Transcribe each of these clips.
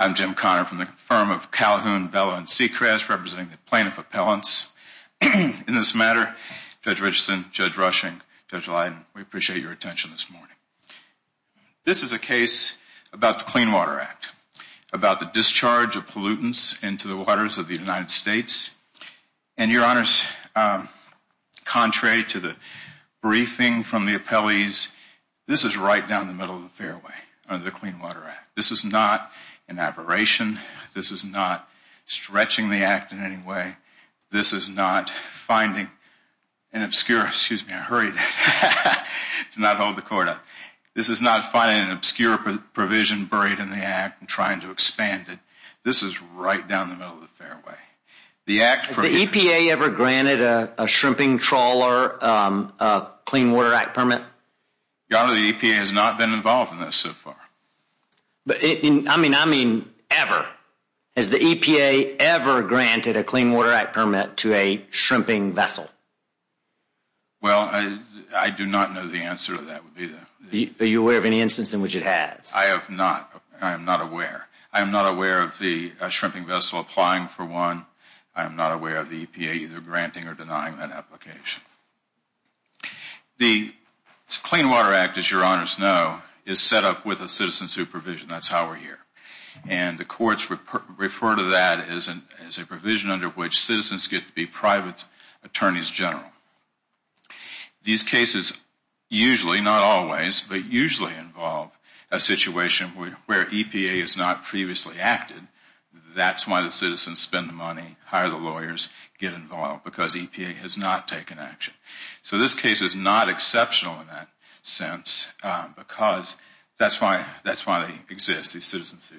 I'm Jim Connor from the firm of Calhoun, Bellow, and Seacrest, representing the plaintiff appellants. In this matter, Judge Richardson, Judge Rushing, Judge Leiden, we appreciate your attention this morning. This is a case about the Clean Water Act, about the discharge of pollutants into the waters of the United States, and your honors, contrary to the briefing from the appellees, this is right down the middle of the fairway under the Clean Water Act. This is not an aberration, this is not stretching the act in any way, this is not finding an obscure provision buried in the act and trying to expand it. This is right down the middle of the fairway. Has the EPA ever granted a Clean Water Act permit to a shrimping vessel? I do not know the answer to that. Are you aware of any instance in which it has? I am not aware. I am not aware of the shrimping vessel applying for one, I am not aware of the EPA either granting or denying that application. The Clean Water Act, as your honors know, is set up with a citizen supervision, that is how we are here. And the courts refer to that as a provision under which citizens get to be private attorneys general. These cases usually, not always, but usually involve a situation where EPA has not previously acted, that is why the citizens spend the money, hire the lawyers, get involved, because So this case is not exceptional in that sense, because that is why they exist, these citizens.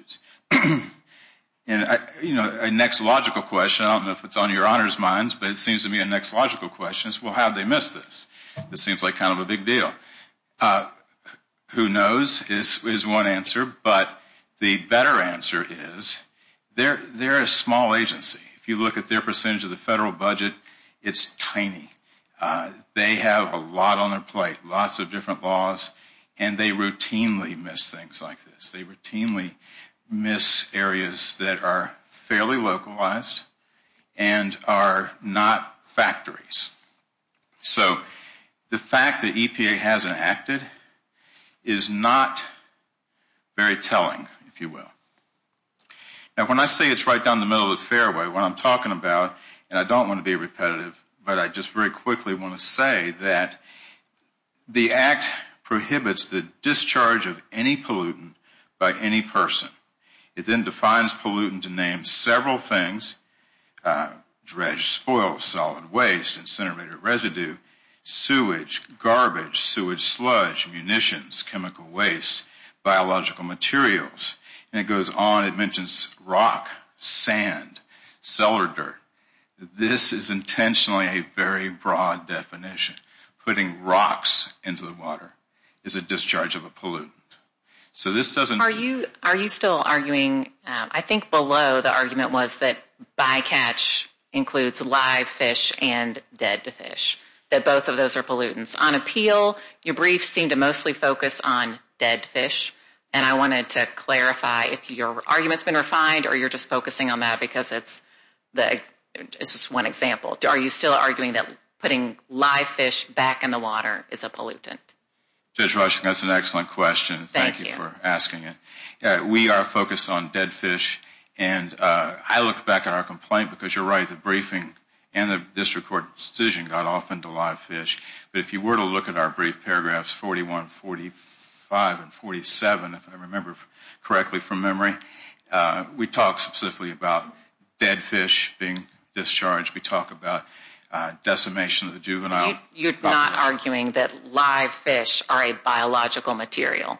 And the next logical question, I do not know if it is on your honors' minds, but it seems to be a next logical question, is how did they miss this? This seems like kind of a big deal. Who knows is one answer, but the better answer is they are a small agency. If you look at their percentage of the budget, it is tiny. They have a lot on their plate, lots of different laws, and they routinely miss things like this. They routinely miss areas that are fairly localized and are not factories. So the fact that EPA has not acted is not very telling, if you will. Now when I say it is right down the middle of the fairway, what I am talking about, and I don't want to be repetitive, but I just very quickly want to say that the Act prohibits the discharge of any pollutant by any person. It then defines pollutant to name several things, dredge, spoil, solid waste, incinerated residue, sewage, garbage, sewage sludge, munitions, chemical waste, biological materials, and it goes on, it mentions rock, sand, cellar dirt. This is intentionally a very broad definition. Putting rocks into the water is a discharge of a pollutant. Are you still arguing, I think below the argument was that bycatch includes live fish and dead fish, that both of those are pollutants. On appeal, your brief seemed to mostly focus on dead fish, and I wanted to clarify if your argument has been refined or you are just focusing on that because it is just one example. Are you still arguing that putting live fish back in the water is a pollutant? Judge Washington, that is an excellent question. Thank you for asking it. We are focused on dead fish, and I look back at our complaint because you are right, the briefing and the district court decision got off into live fish, but if you were to look at our brief paragraphs 41, 45, and 47, if I remember correctly from memory, we talk specifically about dead fish being discharged. We talk about decimation of the juvenile. You are not arguing that live fish are a biological material?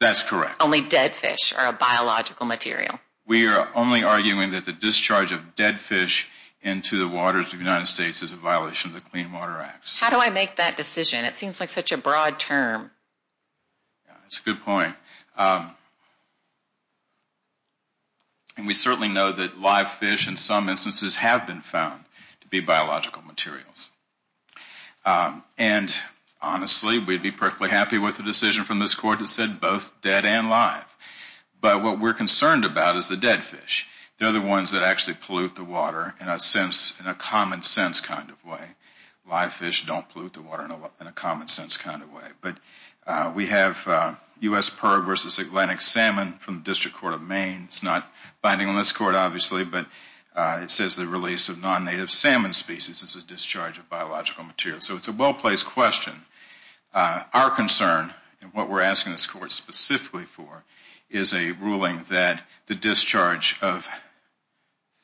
That is correct. Only dead fish are a biological material. We are only arguing that the discharge of dead fish into the waters of the United States is a violation of the Clean Water Act. How do I make that decision? It seems like such a broad term. That is a good point. We certainly know that live fish in some instances have been found to be biological materials. Honestly, we would be perfectly happy with the decision from this but what we are concerned about is the dead fish. They are the ones that actually pollute the water in a common sense kind of way. Live fish don?t pollute the water in a common sense kind of way. We have U.S. Perg v. Atlantic Salmon from the District Court of Maine. It is not binding on this Court, obviously, but it says the release of non-native salmon species is a discharge of biological material. It is a well-placed question. Our concern and what we are asking this Court specifically for is a ruling that the discharge of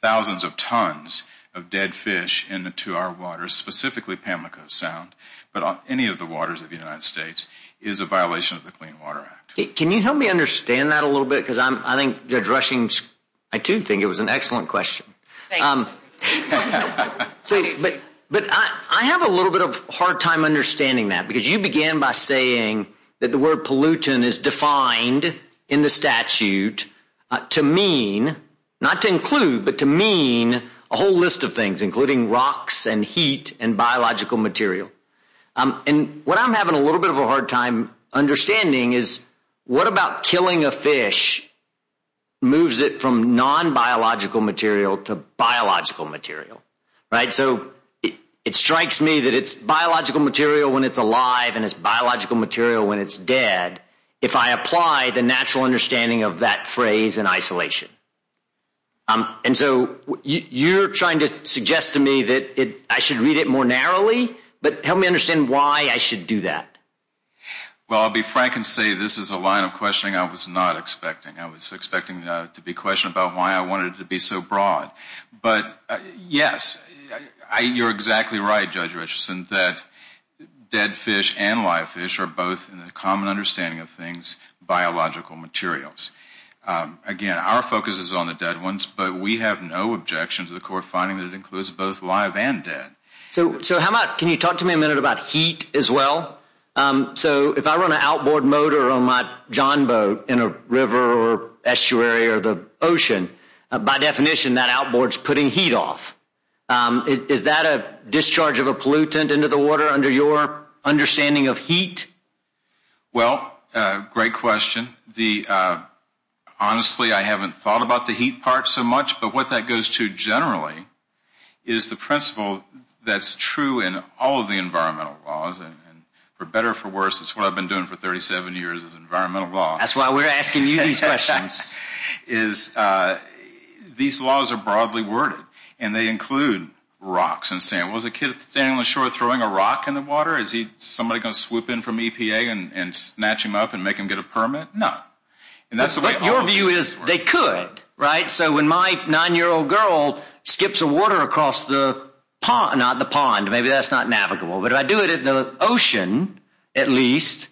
thousands of tons of dead fish into our waters, specifically Pamlico Sound, but any of the waters of the United States, is a violation of the Clean Water Act. Can you help me understand that a little bit? I think Judge Rushing, I too think it was an excellent question. Thank you. I have a little bit of a hard time understanding that because you began by saying that the word pollutant is defined in the statute to mean, not to include, but to mean a whole list of things, including rocks and heat and biological material. What I am having a little bit of a hard time understanding is what about killing a fish moves it from non-biological material to biological material? It strikes me that it is biological material when it is dead, if I apply the natural understanding of that phrase in isolation. You are trying to suggest to me that I should read it more narrowly, but help me understand why I should do that. I will be frank and say this is a line of questioning I was not expecting. I was expecting to be questioned about why I wanted it to be so narrow. I think both live fish and dead fish are both in the common understanding of things, biological materials. Again, our focus is on the dead ones, but we have no objection to the court finding that it includes both live and dead. Can you talk to me a minute about heat as well? If I run an outboard motor on my John boat in a river or estuary or the ocean, by definition that outboard is putting heat off. Is that a discharge of a pollutant into the water under your understanding of heat? Well, great question. Honestly, I have not thought about the heat part so much, but what that goes to generally is the principle that is true in all of the environmental laws. For better or for worse, that is what I have been doing for 37 years is environmental law. That is why we are asking you these questions. These laws are broadly worded, and they include rocks and sand. Was a kid standing on the shore throwing a rock in the water? Is somebody going to swoop in from EPA and snatch him up and make him get a permit? No. Your view is they could, right? So when my nine-year-old girl skips a water across the pond, maybe that is not navigable, but if I do it at the ocean, at least,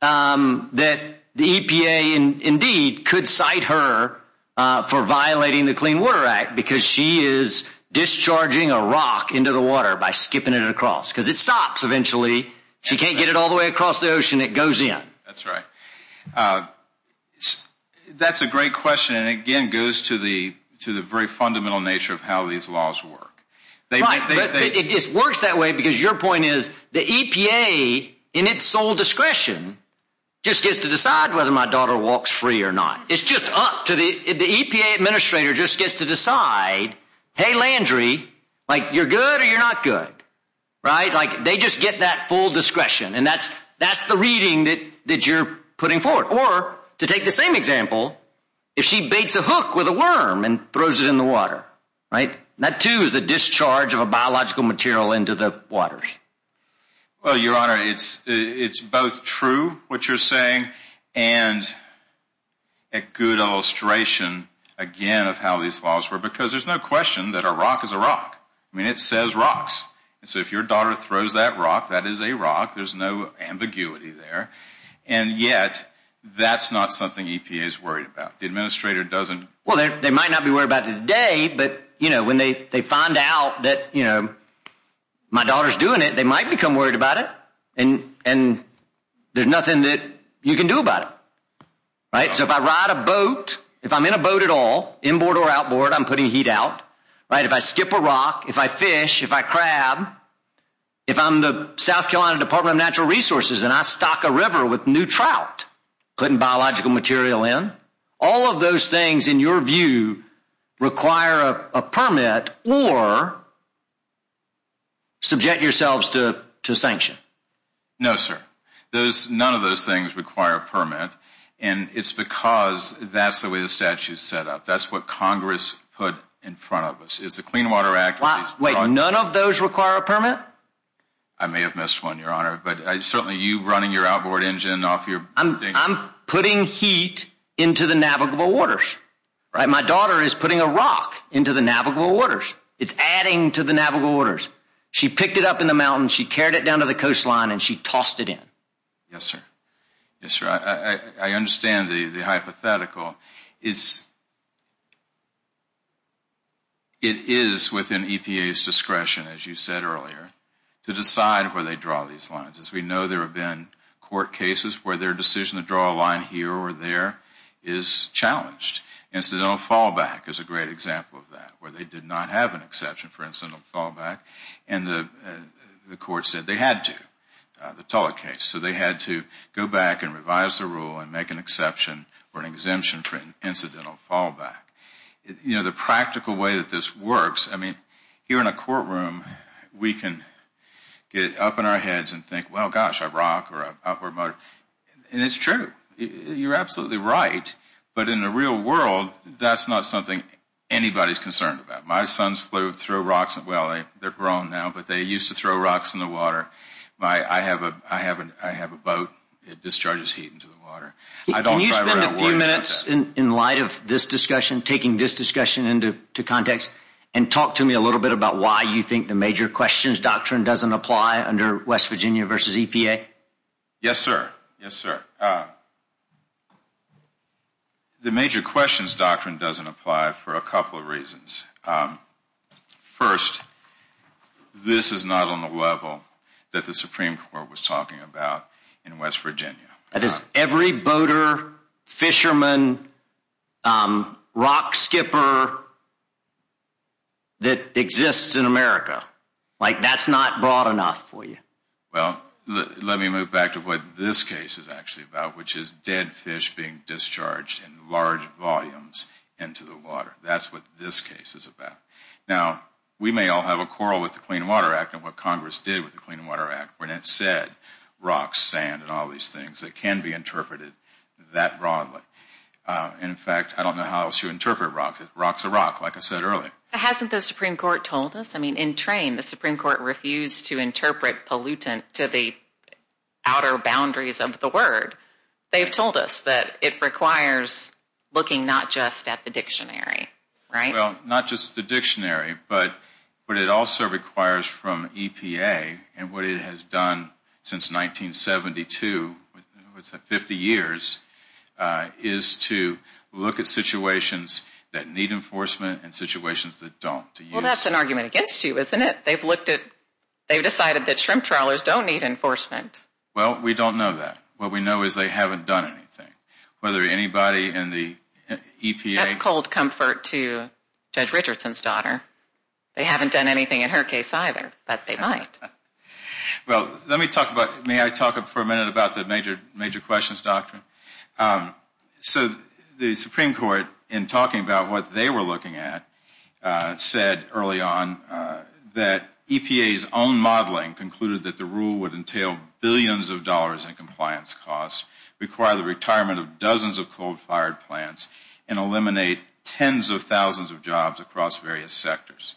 that the EPA indeed could cite her for violating the Clean Water Act because she is discharging a rock into the water by skipping it across because it stops eventually. She cannot get it all the way across the ocean. It goes in. That is right. That is a great question, and again, it goes to the very fundamental nature of how these laws work. It works that way because your point is the EPA, in its sole discretion, just gets to decide whether my daughter walks free or not. It is just up to the EPA administrator just gets to decide, hey, Landry, you are good or you are not good, right? They just get that full discretion, and that is the reading that you are putting forward. Or to take the same example, if she baits a hook with a worm and throws it in the water. Well, Your Honor, it is both true, what you are saying, and a good illustration, again, of how these laws work because there is no question that a rock is a rock. I mean, it says rocks, and so if your daughter throws that rock, that is a rock. There is no ambiguity there, and yet, that is not something EPA is worried about. The administrator does not. Well, they might not be worried about it today, but when they find out that my daughter is doing it, they might become worried about it, and there is nothing that you can do about it, right? So if I ride a boat, if I am in a boat at all, inboard or outboard, I am putting heat out, right? If I skip a rock, if I fish, if I crab, if I am the South Carolina Department of Natural Resources and I stock a require a permit or subject yourselves to a sanction. No, sir. None of those things require a permit, and it is because that is the way the statute is set up. That is what Congress put in front of us. Is the Clean Water Act... Wait, none of those require a permit? I may have missed one, Your Honor, but certainly you running your outboard engine off your... I am putting heat into the navigable waters, right? My daughter is putting a rock into the navigable waters. It is adding to the navigable waters. She picked it up in the mountains, she carried it down to the coastline, and she tossed it in. Yes, sir. Yes, sir. I understand the hypothetical. It is within EPA's discretion, as you said earlier, to decide where they draw these lines. As we know, there have been court cases where their decision to draw a line here or there is challenged. Incidental fallback is a great example of that, where they did not have an exception for incidental fallback, and the court said they had to, the Tulloch case. So they had to go back and revise the rule and make an exception or an exemption for an incidental fallback. You know, the practical way that this works, I mean, here in a courtroom, we can get up in our heads and think, well, gosh, a rock or an outboard motor. And it is true. You are absolutely right. But in the real world, that is not something anybody is concerned about. My sons flew through rocks. Well, they are grown now, but they used to throw rocks in the water. I have a boat. It discharges heat into the water. Can you spend a few minutes in light of this discussion, taking this discussion into context, and talk to me a little bit about why you think the major questions doctrine does not apply under West Virginia v. EPA? Yes, sir. Yes, sir. The major questions doctrine does not apply for a couple of reasons. First, this is not on the level that the Supreme Court was talking about in West Virginia. That is every boater, fisherman, rock skipper that exists in America. Like, that is not broad enough for you. Well, let me move back to what this case is actually about, which is dead fish being discharged in large volumes into the water. That is what this case is about. Now, we may all have a quarrel with the Clean Water Act and what Congress did with the can be interpreted that broadly. In fact, I don't know how else you interpret rocks. Rock is a rock, like I said earlier. Hasn't the Supreme Court told us? I mean, in train, the Supreme Court refused to interpret pollutant to the outer boundaries of the word. They have told us that it requires looking not just at the dictionary, right? Well, not just the dictionary, but it also requires from EPA and what it has done since 1972, what's that, 50 years, is to look at situations that need enforcement and situations that don't. Well, that's an argument against you, isn't it? They've looked at, they've decided that shrimp trawlers don't need enforcement. Well, we don't know that. What we know is they haven't done anything. Whether anybody in the EPA. That's comfort to Judge Richardson's daughter. They haven't done anything in her case either, but they might. Well, let me talk about, may I talk for a minute about the major questions, doctor? So the Supreme Court, in talking about what they were looking at, said early on that EPA's own modeling concluded that the rule would entail billions of dollars in compliance costs, require the retirement of dozens of coal-fired plants, and eliminate tens of thousands of jobs across various sectors.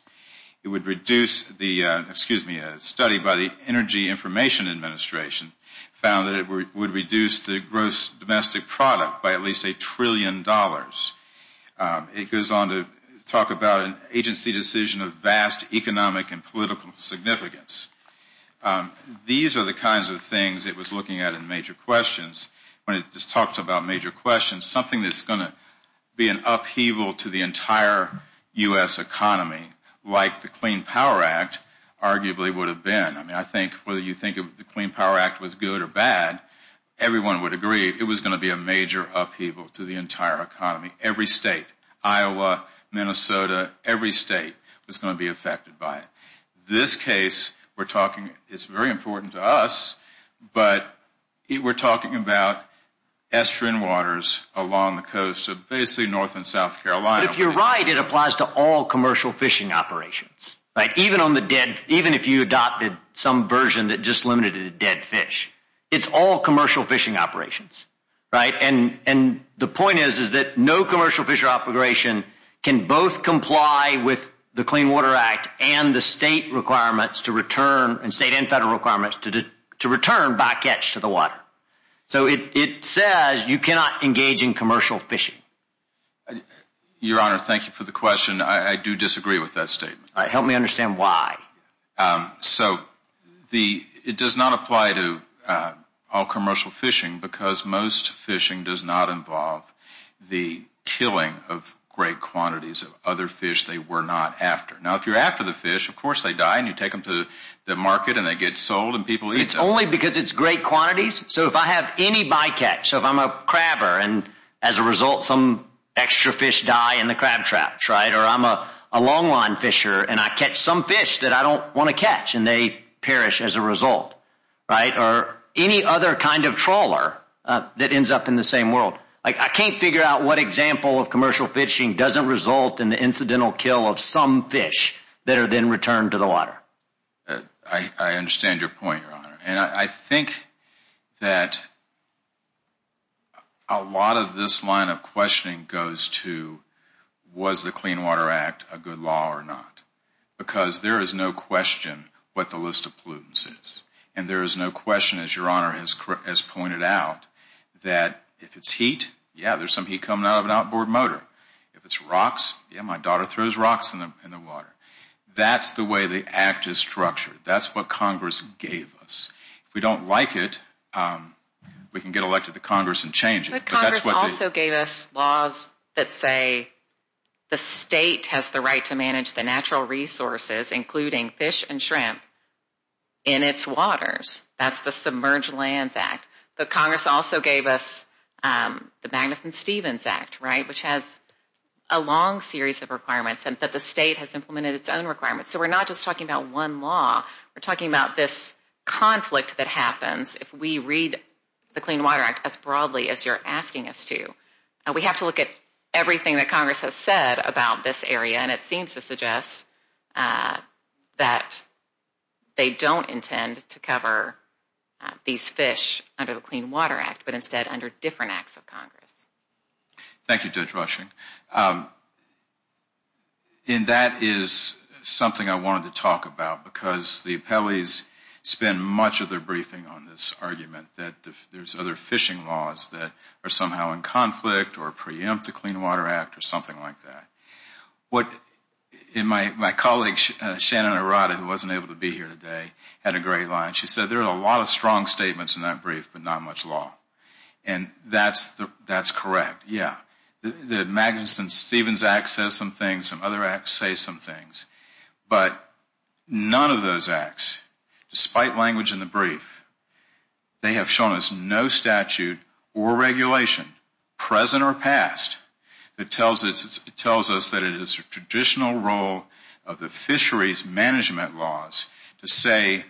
It would reduce the, excuse me, a study by the Energy Information Administration found that it would reduce the gross domestic product by at least a trillion dollars. It goes on to talk about an agency decision of vast economic and political significance. These are the kinds of things it was looking at in major questions. When it just talks about major questions, something that's going to be an upheaval to the entire U.S. economy, like the Clean Power Act, arguably would have been. I mean, I think whether you think of the Clean Power Act was good or bad, everyone would agree it was going to be a major upheaval to the entire economy. Every state, Iowa, Minnesota, every state was going to be affected by it. This case, we're talking, it's very important to us, but we're talking about estuarine waters along the coast of basically North and South Carolina. But if you're right, it applies to all commercial fishing operations, right? Even on the dead, even if you adopted some version that just limited it to dead fish. It's all commercial fishing operations, right? And the point is, no commercial fishery operation can both comply with the Clean Water Act and the state requirements to return, state and federal requirements, to return by catch to the water. So it says you cannot engage in commercial fishing. Your Honor, thank you for the question. I do disagree with that statement. Help me understand why. So it does not apply to all commercial fishing because most fishing does not involve the killing of great quantities of other fish they were not after. Now if you're after the fish, of course they die and you take them to the market and they get sold and people eat them. It's only because it's great quantities. So if I have any bycatch, so if I'm a crabber and as a result some extra fish die in the crab traps, right? Or I'm a long line fisher and I catch some fish that I don't want to catch and they perish as a result, right? Or any other kind of trawler that ends up in the same world. I can't figure out what example of commercial fishing doesn't result in the incidental kill of some fish that are then returned to the water. I understand your point, Your Honor. And I think that a lot of this line of questioning goes to was the Clean Water Act a good law or not? Because there is no question what the list of pollutants is. And there is no question, as Your Honor has pointed out, that if it's heat, yeah, there's some heat coming out of an outboard motor. If it's rocks, yeah, my daughter throws rocks in the water. That's the way the act is structured. That's what Congress gave us. If we don't like it, we can get elected to Congress and change it. But Congress also gave us laws that say the state has the right to manage the natural resources, including fish and shrimp, in its waters. That's the Submerged Lands Act. But Congress also gave us the Magnuson-Stevens Act, right, which has a long series of requirements and that the state has implemented its own requirements. So we're not just talking about one law. We're talking about this conflict that happens if we read the Clean Water Act as broadly as you're asking us to. We have to look at everything that Congress has said about this area. And it seems to suggest that they don't intend to cover these fish under the Clean Water Act, but instead under different acts of Congress. Thank you, Judge Rushing. And that is something I wanted to talk about because the appellees spend much of their briefing on this argument that there's other fishing laws that are somehow in conflict or My colleague, Shannon Arata, who wasn't able to be here today, had a great line. She said there are a lot of strong statements in that brief, but not much law. And that's correct, yeah. The Magnuson-Stevens Act says some things. Some other acts say some things. But none of those acts, despite language in the brief, they have shown us no statute or regulation, present or past, that tells us that it is a traditional role of the fisheries management laws to say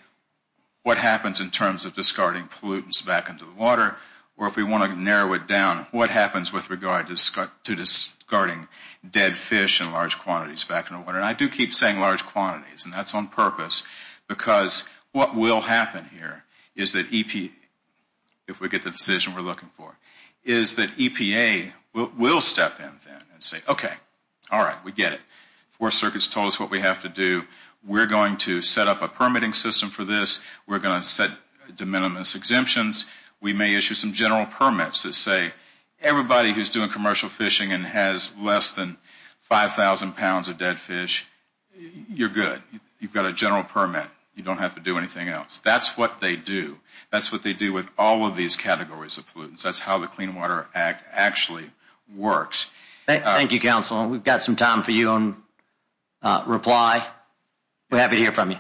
what happens in terms of discarding pollutants back into the water, or if we want to narrow it down, what happens with regard to discarding dead fish in large quantities back into the water. And I do keep saying large quantities, and that's on purpose, because what will happen here is that EPA will step in then and say, okay, all right, we get it. Fourth Circuit's told us what we have to do. We're going to set up a permitting system for this. We're going to set de minimis exemptions. We may issue some general permits that say everybody who's doing commercial fishing and has less than 5,000 pounds of dead fish, you're good. You've got a general permit. You don't have to do anything else. That's what they do. That's what they do with all of these categories of pollutants. That's how the Clean Water Act actually works. Thank you, Counsel. We've got some time for you in reply. We're happy to hear from you.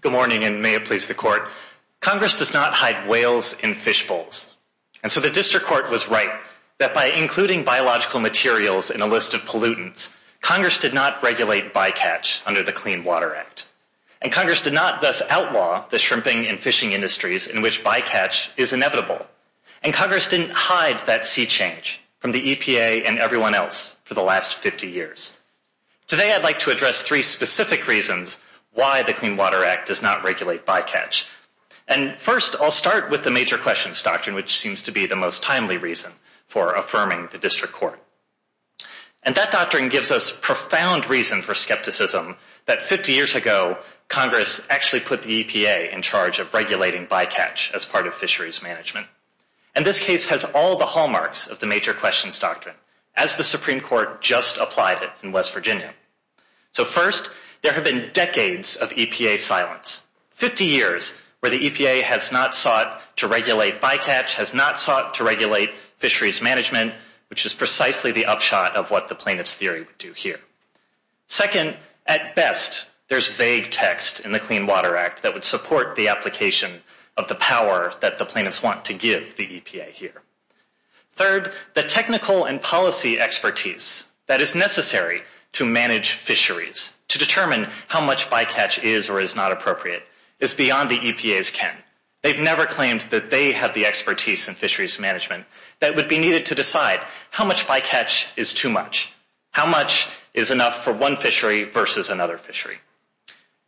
Good morning, and may it please the Court. Congress does not hide whales in fish bowls. And so the District Court was right that by including biological materials in a list of pollutants, Congress did not regulate bycatch under the Clean Water Act. And Congress did not thus outlaw the shrimping and fishing industries in which bycatch is inevitable. And Congress didn't hide that sea change from the EPA and everyone else for the last 50 years. Today, I'd like to address three specific reasons why the Clean Water Act does not regulate bycatch. And first, I'll start with the major questions doctrine, which seems to be the most timely reason for affirming the District Court. And that doctrine gives us profound reason for skepticism that 50 years ago, Congress actually put the EPA in charge of regulating bycatch as part of fisheries management. And this case has all the hallmarks of the major questions doctrine, as the Supreme Court just applied it in West Virginia. So first, there have been decades of EPA silence, 50 years where the EPA has not sought to regulate bycatch, has not sought to regulate fisheries management, which is precisely the upshot of what the plaintiff's theory would do here. Second, at best, there's vague text in the Clean Water Act that would support the application of the power that the plaintiffs want to give the EPA here. Third, the technical and policy expertise that is necessary to manage fisheries, to determine how much bycatch is or is not appropriate, is beyond the EPA's ken. They've never claimed that they have the expertise in fisheries management that would be needed to decide how much bycatch is too much, how much is enough for one fishery versus another fishery.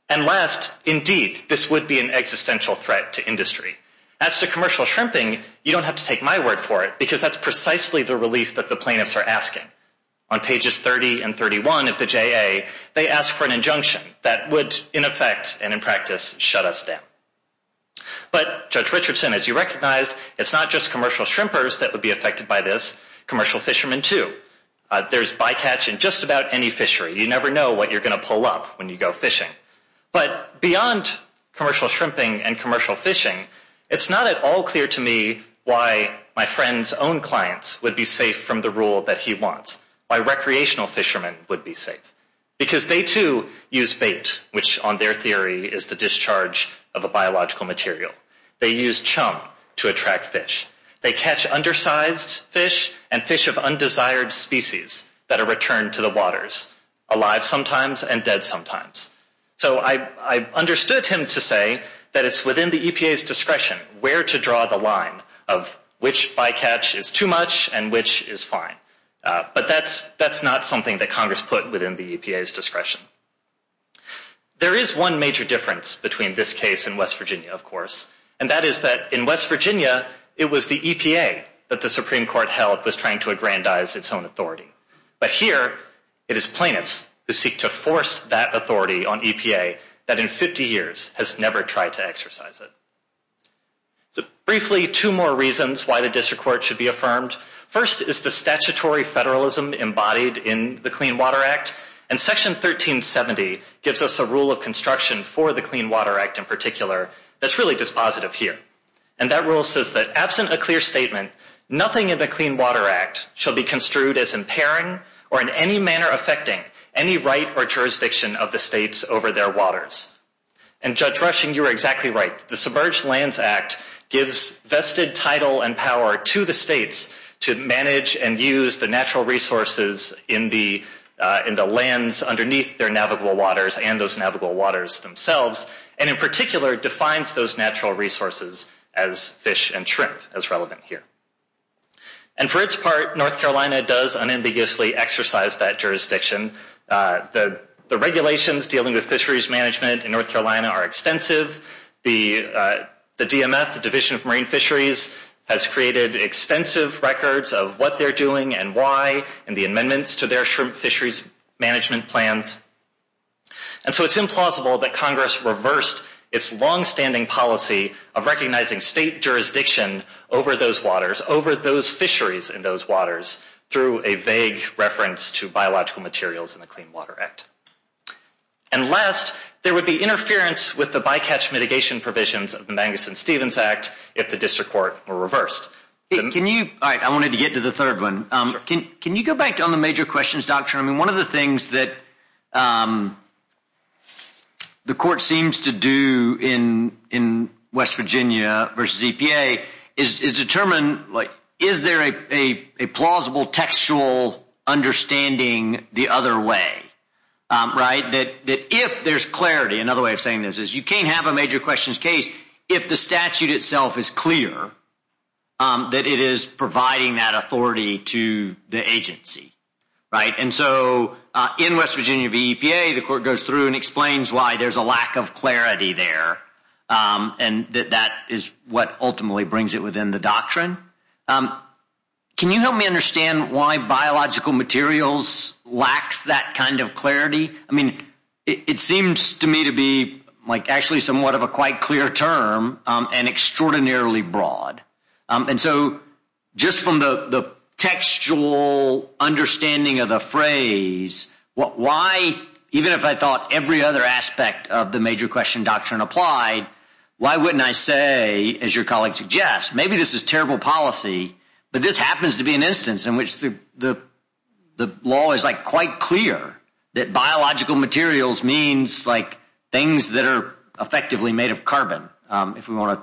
And last, indeed, this would be an existential threat to industry. As to commercial shrimping, you don't have to take my word for it, because that's precisely the relief that the plaintiffs are asking. On pages 30 and 31 of the JA, they ask for an injunction that would, in effect and in practice, shut us down. But Judge Richardson, as you recognized, it's not just commercial shrimpers that would be affected by this, commercial fishermen too. There's bycatch in just about any fishery. You never know what you're going to pull up when you go fishing. But beyond commercial shrimping and commercial fishing, it's not at all clear to me why my friend's own clients would be safe from the rule that he wants, why recreational fishermen would be safe. Because they too use bait, which on their theory is the fish and fish of undesired species that are returned to the waters, alive sometimes and dead sometimes. So I understood him to say that it's within the EPA's discretion where to draw the line of which bycatch is too much and which is fine. But that's not something that Congress put within the EPA's discretion. There is one major difference between this case and West Virginia, of course, and that is that in West Virginia, it was the EPA that the Supreme Court held was trying to aggrandize its own authority. But here, it is plaintiffs who seek to force that authority on EPA that in 50 years has never tried to exercise it. So briefly, two more reasons why the District Court should be affirmed. First is the statutory federalism embodied in the Clean Water Act, and Section 1370 gives us a rule of construction for the Clean Water Act in particular that's really dispositive here. And that rule says that absent a clear statement, nothing in the Clean Water Act shall be construed as impairing or in any manner affecting any right or jurisdiction of the states over their waters. And Judge Rushing, you're exactly right. The Submerged Lands Act gives vested title and power to the states to manage and use the natural resources in the lands underneath their navigable waters and those navigable waters themselves, and in particular, defines those natural resources as fish and shrimp, as relevant here. And for its part, North Carolina does unambiguously exercise that jurisdiction. The regulations dealing with fisheries management in North Carolina are extensive. The DMF, the Division of Marine Fisheries, has created extensive records of what they're doing and why, and the amendments to their shrimp fisheries management plans. And so it's implausible that Congress reversed its long-standing policy of recognizing state jurisdiction over those waters, over those fisheries in those waters, through a vague reference to biological materials in the Clean Water Act. And last, there would be interference with the bycatch mitigation provisions of the Mangus and Stevens Act if the District Court were reversed. Can you, all right, I wanted to get to the third one. Can you go back on the court seems to do in West Virginia versus EPA is determine, like, is there a plausible textual understanding the other way, right? That if there's clarity, another way of saying this, is you can't have a major questions case if the statute itself is clear that it is providing that authority to the agency, right? And so in West Virginia v. EPA, the court goes through and explains why there's a lack of clarity there, and that that is what ultimately brings it within the doctrine. Can you help me understand why biological materials lacks that kind of clarity? I mean, it seems to me to be, like, actually somewhat of a quite clear term and extraordinarily broad. And so just from the textual understanding of the phrase, why, even if I thought every other aspect of the major question doctrine applied, why wouldn't I say, as your colleague suggests, maybe this is terrible policy, but this happens to be an instance in which the law is, like, quite clear that biological materials means, like, things that are effectively made of carbon, if we want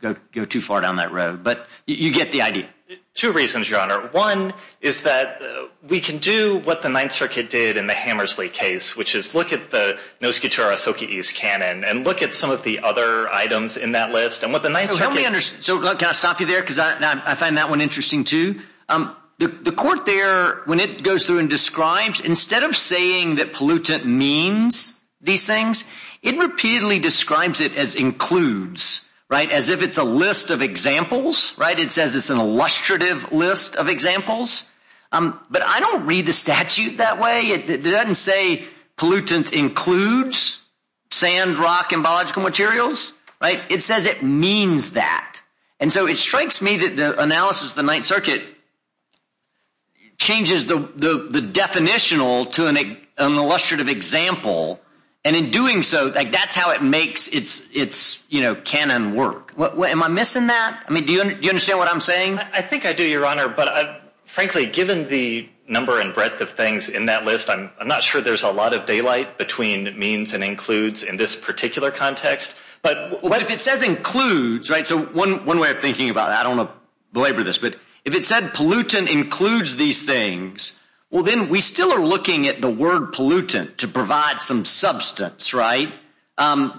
to go too far down that road. But you get the idea. Two reasons, your honor. One is that we can do what the Ninth Circuit did in the Hammersley case, which is look at the Noskutura-Soki-East canon, and look at some of the other items in that list. And what the Ninth Circuit... Help me understand. So can I stop you there? Because I find that one interesting, too. The court there, when it goes through and describes, instead of saying that pollutant means these things, it repeatedly describes it as includes, right? As if it's a list of examples, right? It says it's an illustrative list of examples. But I don't read the statute that way. It doesn't say pollutant includes sand, rock, and biological materials, right? It says it means that. And so it strikes me that the analysis of the Ninth Circuit changes the definitional to an illustrative example. And in doing so, that's how it makes its canon work. Am I missing that? I mean, do you understand what I'm saying? I think I do, your honor. But frankly, given the number and breadth of things in that list, I'm not sure there's a lot of daylight between means and includes in this particular context. But if it says includes, right? So one way of thinking about that, I don't want to say pollutant includes these things. Well, then we still are looking at the word pollutant to provide some substance, right?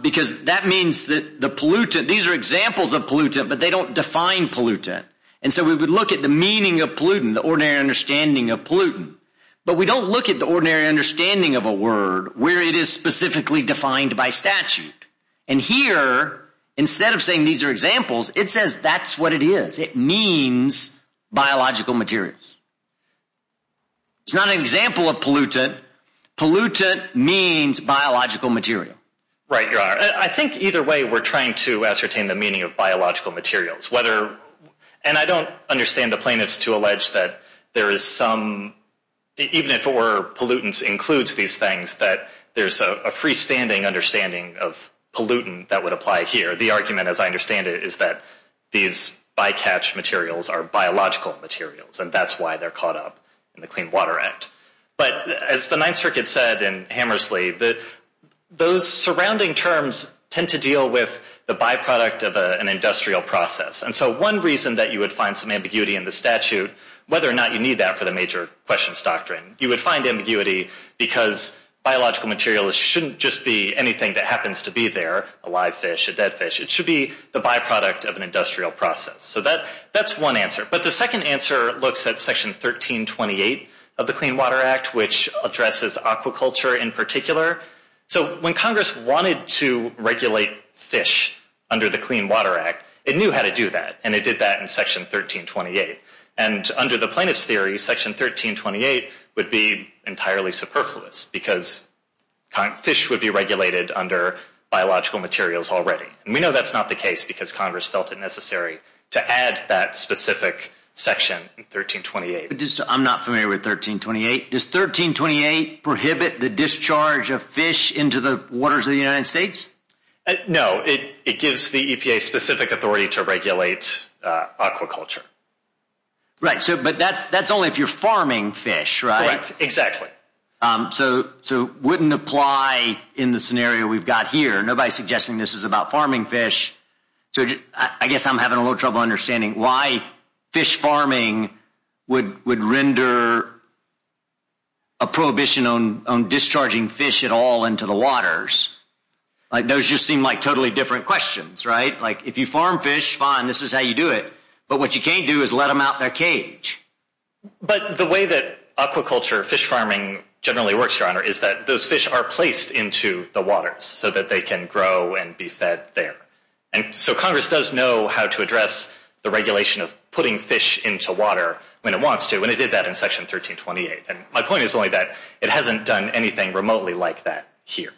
Because that means that the pollutant, these are examples of pollutant, but they don't define pollutant. And so we would look at the meaning of pollutant, the ordinary understanding of pollutant. But we don't look at the ordinary understanding of a word where it is specifically defined by statute. And here, instead of saying these are examples, it says that's what it is. It means biological materials. It's not an example of pollutant. Pollutant means biological material. Right, your honor. I think either way, we're trying to ascertain the meaning of biological materials. And I don't understand the plaintiffs to allege that there is some, even if pollutants includes these things, that there's a freestanding understanding of pollutant that would apply here. The argument, as I said, these bycatch materials are biological materials, and that's why they're caught up in the Clean Water Act. But as the Ninth Circuit said in Hammersley, that those surrounding terms tend to deal with the byproduct of an industrial process. And so one reason that you would find some ambiguity in the statute, whether or not you need that for the major questions doctrine, you would find ambiguity because biological materials shouldn't just be anything that So that's one answer. But the second answer looks at Section 1328 of the Clean Water Act, which addresses aquaculture in particular. So when Congress wanted to regulate fish under the Clean Water Act, it knew how to do that. And it did that in Section 1328. And under the plaintiff's theory, Section 1328 would be entirely superfluous because fish would be regulated under biological materials already. And we know that's not case because Congress felt it necessary to add that specific section in 1328. But I'm not familiar with 1328. Does 1328 prohibit the discharge of fish into the waters of the United States? No, it gives the EPA specific authority to regulate aquaculture. Right. So but that's only if you're farming fish, right? Exactly. So wouldn't apply in the scenario we've got here. Nobody's suggesting this is about farming fish. So I guess I'm having a little trouble understanding why fish farming would would render a prohibition on discharging fish at all into the waters. Those just seem like totally different questions, right? Like if you farm fish, fine, this is how you do it. But what you can't do is let them out their cage. But the way that aquaculture fish farming generally works, Your Honor, is that those Congress does know how to address the regulation of putting fish into water when it wants to, and it did that in Section 1328. And my point is only that it hasn't done anything remotely like that here.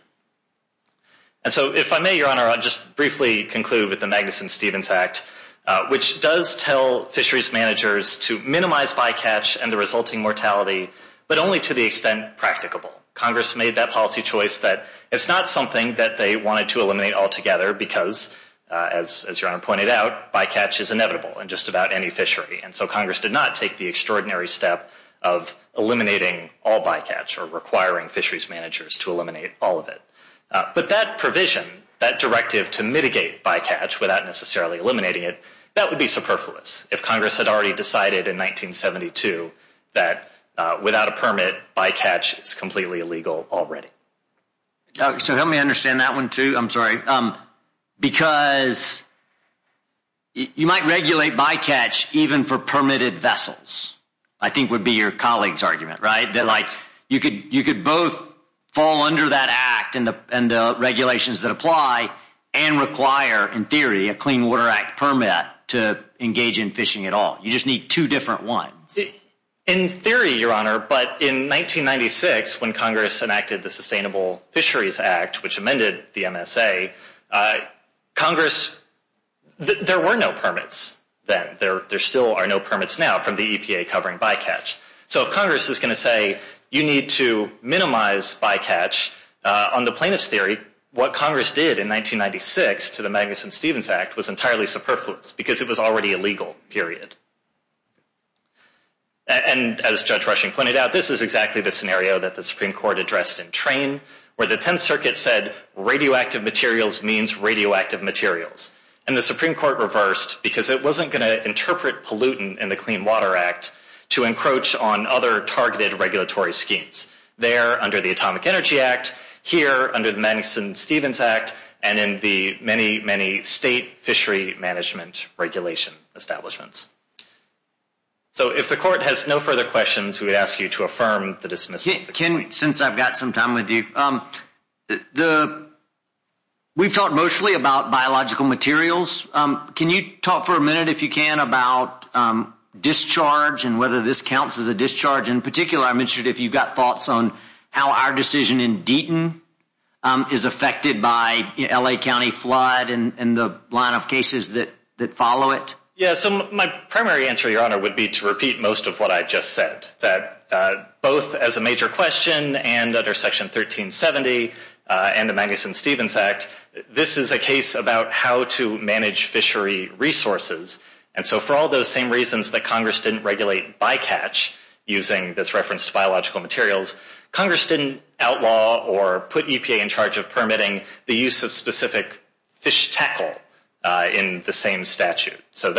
And so if I may, Your Honor, I'll just briefly conclude with the Magnuson-Stevens Act, which does tell fisheries managers to minimize bycatch and the resulting mortality, but only to the extent practicable. Congress made that policy choice that it's not something that as Your Honor pointed out, bycatch is inevitable in just about any fishery. And so Congress did not take the extraordinary step of eliminating all bycatch or requiring fisheries managers to eliminate all of it. But that provision, that directive to mitigate bycatch without necessarily eliminating it, that would be superfluous if Congress had already decided in 1972 that without a permit, bycatch is completely illegal already. So help me understand that one too. I'm sorry. Because you might regulate bycatch even for permitted vessels, I think would be your colleague's argument, right? That like, you could both fall under that act and the regulations that apply and require, in theory, a Clean Water Act permit to engage in fishing at all. You just need two different ones. In theory, Your Honor, but in 1996, when Congress enacted the Sustainable Fisheries Act, which amended the MSA, Congress, there were no permits then. There still are no permits now from the EPA covering bycatch. So if Congress is going to say you need to minimize bycatch, on the plaintiff's theory, what Congress did in 1996 to the Magnuson-Stevens Act was entirely superfluous because it was already illegal, period. And as Judge Rushing pointed out, this is exactly the scenario that the Supreme Court addressed in Train, where the 10th Circuit said radioactive materials means radioactive materials. And the Supreme Court reversed because it wasn't going to interpret pollutant in the Clean Water Act to encroach on other targeted regulatory schemes. There, under the Atomic Energy Act, here, under the Magnuson-Stevens Act, and in the many, many state fishery management regulation establishments. So if the Court has no further questions, we ask you to affirm the dismissal. Ken, since I've got some time with you, we've talked mostly about biological materials. Can you talk for a minute, if you can, about discharge and whether this counts as a discharge? In particular, I'm interested if you've got thoughts on how our decision in Deaton is affected by L.A. County flood and the line of cases that follow it. Yeah, so my primary answer, Your Honor, would be to repeat most of what I just said, that both as a major question and under Section 1370 and the Magnuson-Stevens Act, this is a case about how to manage fishery resources. And so for all those same reasons that Congress didn't regulate bycatch using this reference to biological materials, Congress didn't outlaw or put EPA in charge of permitting the use of specific fish tackle in the same statute. So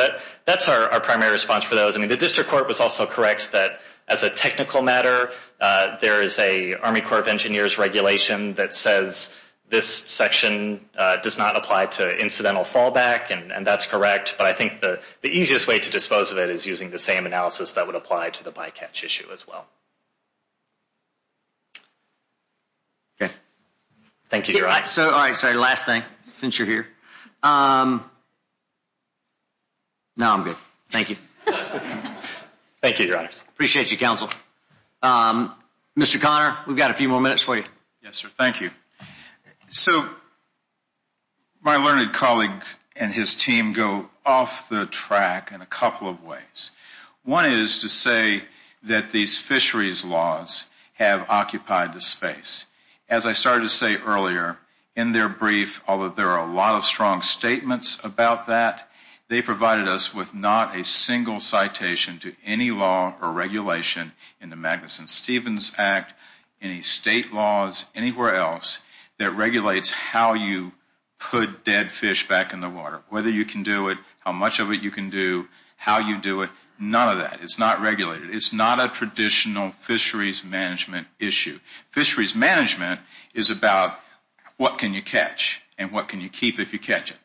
that's our primary response for those. I mean, the District Court was also correct that as a technical matter, there is an Army Corps of Engineers regulation that says this section does not apply to incidental fallback, and that's correct. But I think the easiest way to dispose of it is using the same analysis that would apply to the bycatch issue as well. Okay. Thank you, Your Honor. So, all right, sorry, last thing since you're here. No, I'm good. Thank you. Thank you, Your Honor. Appreciate you, counsel. Mr. Conner, we've got a few more minutes for you. Yes, sir. Thank you. So my learned colleague and his team go off the track in a couple of ways. One is to say that these fisheries laws have occupied the space. As I started to say earlier, in their brief, although there are a lot of strong statements about that, they provided us with not a single citation to any law or regulation in the Magnuson-Stevens Act, any state laws, anywhere else that regulates how you put dead fish back in the water, whether you can do it, how much of it you can do, how you do it, none of that. It's not regulated. It's not a traditional fisheries management issue. Fisheries management is about what can you catch and what can you keep if you catch it.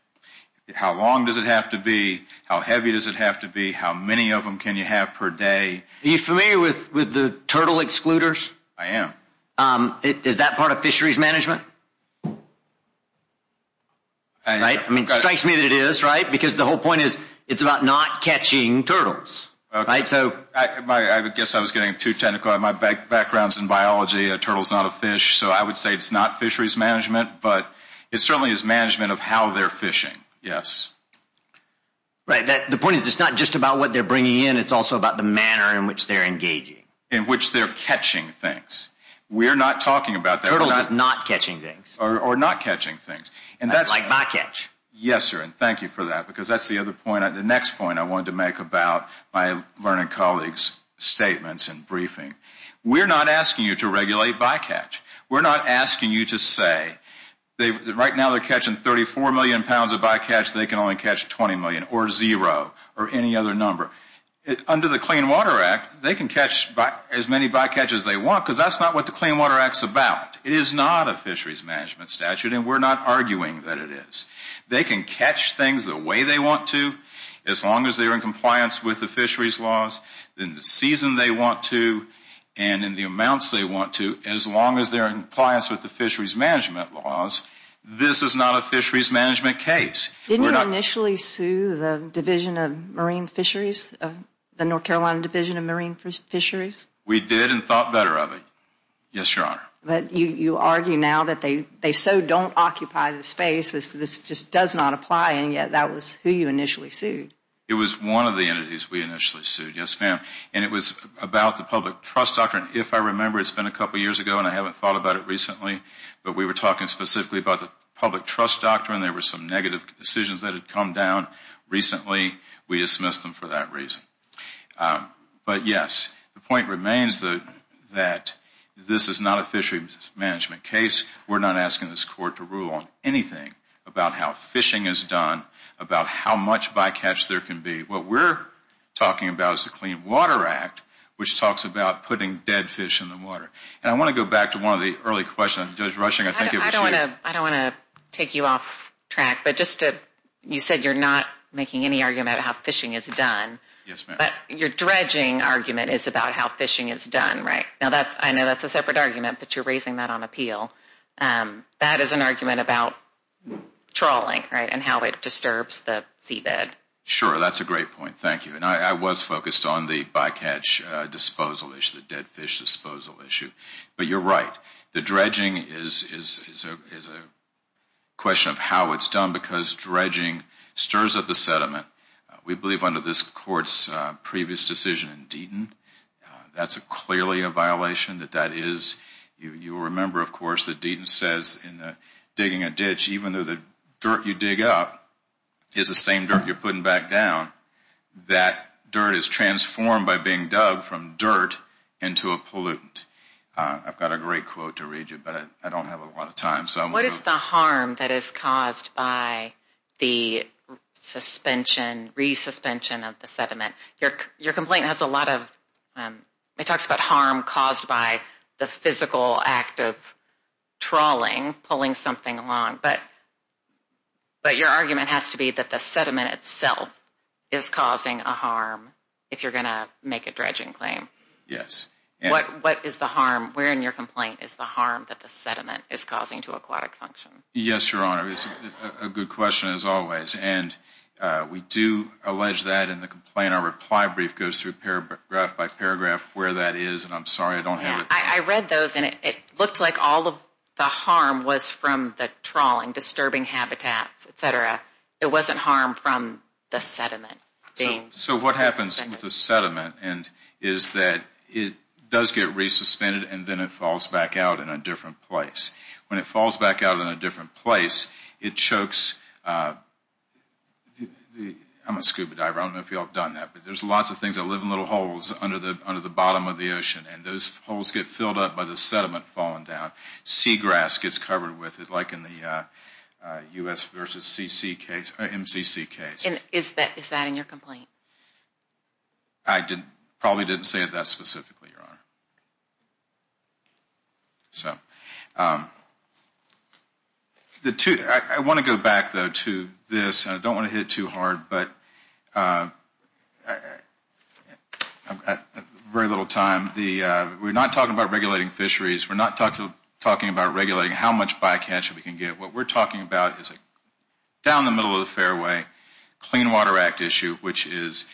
How long does it have to be? How heavy does it have to be? How many of them can you have per day? Are you familiar with the turtle excluders? I am. Is that part of fisheries management? It strikes me that it is, right? Because the whole point is it's about not catching turtles. I guess I was getting too technical. My background is in biology. A turtle is not a fish, so I would say it's not fisheries management, but it certainly is management of how they're fishing. The point is it's not just about what they're bringing in. It's also about the manner in which they're engaging. In which they're catching things. We're not talking about that. Turtles are not catching things. Or not catching things. Like bycatch. Yes, sir, and thank you for that because that's the other point. The next point I wanted to make about my learned colleague's statements and briefing. We're not asking you to regulate bycatch. We're not asking you to say right now they're catching 34 million pounds of bycatch. They can only catch 20 million or zero or any other number. Under the Clean Water Act, they can catch as many bycatch as they want because that's not what the Clean Water Act is about. It is not a fisheries management statute, and we're not arguing that it is. They can catch things the way they want to as long as they're in compliance with the fisheries laws, in the season they want to, and in the amounts they want to, as long as they're in compliance with the fisheries management laws. This is not a marine fisheries, the North Carolina Division of Marine Fisheries. We did and thought better of it, yes, your honor. But you argue now that they so don't occupy the space, this just does not apply, and yet that was who you initially sued. It was one of the entities we initially sued, yes, ma'am, and it was about the public trust doctrine. If I remember, it's been a couple years ago and I haven't thought about it recently, but we were talking specifically about the public trust doctrine. There were some negative decisions that had come down recently. We dismissed them for that reason. But yes, the point remains that this is not a fisheries management case. We're not asking this court to rule on anything about how fishing is done, about how much bycatch there can be. What we're talking about is the Clean Water Act, which talks about putting dead fish in the water, and I want to go back to one of the early questions. Judge Rushing, I think it was you. I don't want to take you off track, but you said you're not making any argument about how fishing is done, but your dredging argument is about how fishing is done, right? Now, I know that's a separate argument, but you're raising that on appeal. That is an argument about trawling, right, and how it disturbs the seabed. Sure, that's a great point. Thank you. And I was focused on the bycatch disposal issue, the dead fish disposal issue, but you're right. The dredging is a question of how it's done because dredging stirs up the sediment. We believe under this court's previous decision in Deaton, that's clearly a violation. You'll remember, of course, that Deaton says in the digging a ditch, even though the dirt you dig up is the same dirt you're putting back down, that dirt is transformed by being dug from dirt into a pollutant. I've got a quote to read you, but I don't have a lot of time. What is the harm that is caused by the suspension, resuspension of the sediment? Your complaint has a lot of, it talks about harm caused by the physical act of trawling, pulling something along, but your argument has to be that the sediment itself is causing a harm if you're going to make a dredging claim. Yes. What is the harm that the sediment is causing to aquatic function? Yes, Your Honor. It's a good question as always, and we do allege that in the complaint. Our reply brief goes through paragraph by paragraph where that is, and I'm sorry I don't have it. I read those, and it looked like all of the harm was from the trawling, disturbing habitats, et cetera. It wasn't harm from the sediment. So what happens with the sediment is that it does get resuspended, and then it falls back out in a different place. When it falls back out in a different place, it chokes, I'm a scuba diver, I don't know if you all have done that, but there's lots of things that live in little holes under the bottom of the ocean, and those holes get filled up by the sediment falling down. Seagrass gets covered with it, like in the U.S. v. MCC case. Is that in your complaint? I probably didn't say it that specifically, Your Honor. I want to go back, though, to this. I don't want to hit it too hard, but I've got very little time. We're not talking about regulating fisheries. We're not talking about regulating how much bycatch we can get. What we're talking about is down the middle of the fairway, Clean Water Act issue, which is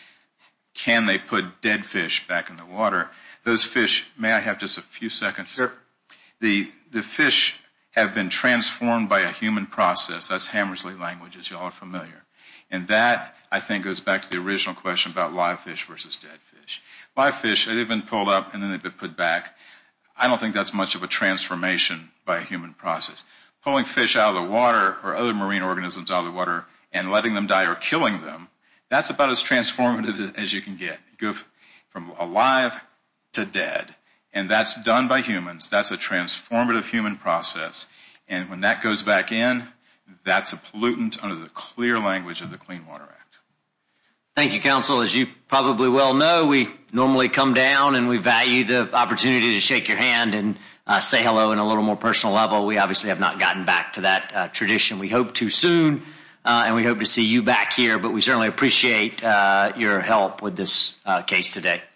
can they put dead fish back in the water? Those fish, may I have just a few seconds? The fish have been transformed by a human process. That's about live fish versus dead fish. Live fish, they've been pulled up and then they've been put back. I don't think that's much of a transformation by a human process. Pulling fish out of the water or other marine organisms out of the water and letting them die or killing them, that's about as transformative as you can get. Go from alive to dead, and that's done by humans. That's a transformative human process, and when that goes back in, that's a pollutant under the clear language of the Clean Water Act. Thank you, counsel. As you probably well know, we normally come down and we value the opportunity to shake your hand and say hello in a little more personal level. We obviously have not gotten back to that tradition. We hope to soon, and we hope to see you back here, but we certainly appreciate your help with this case today.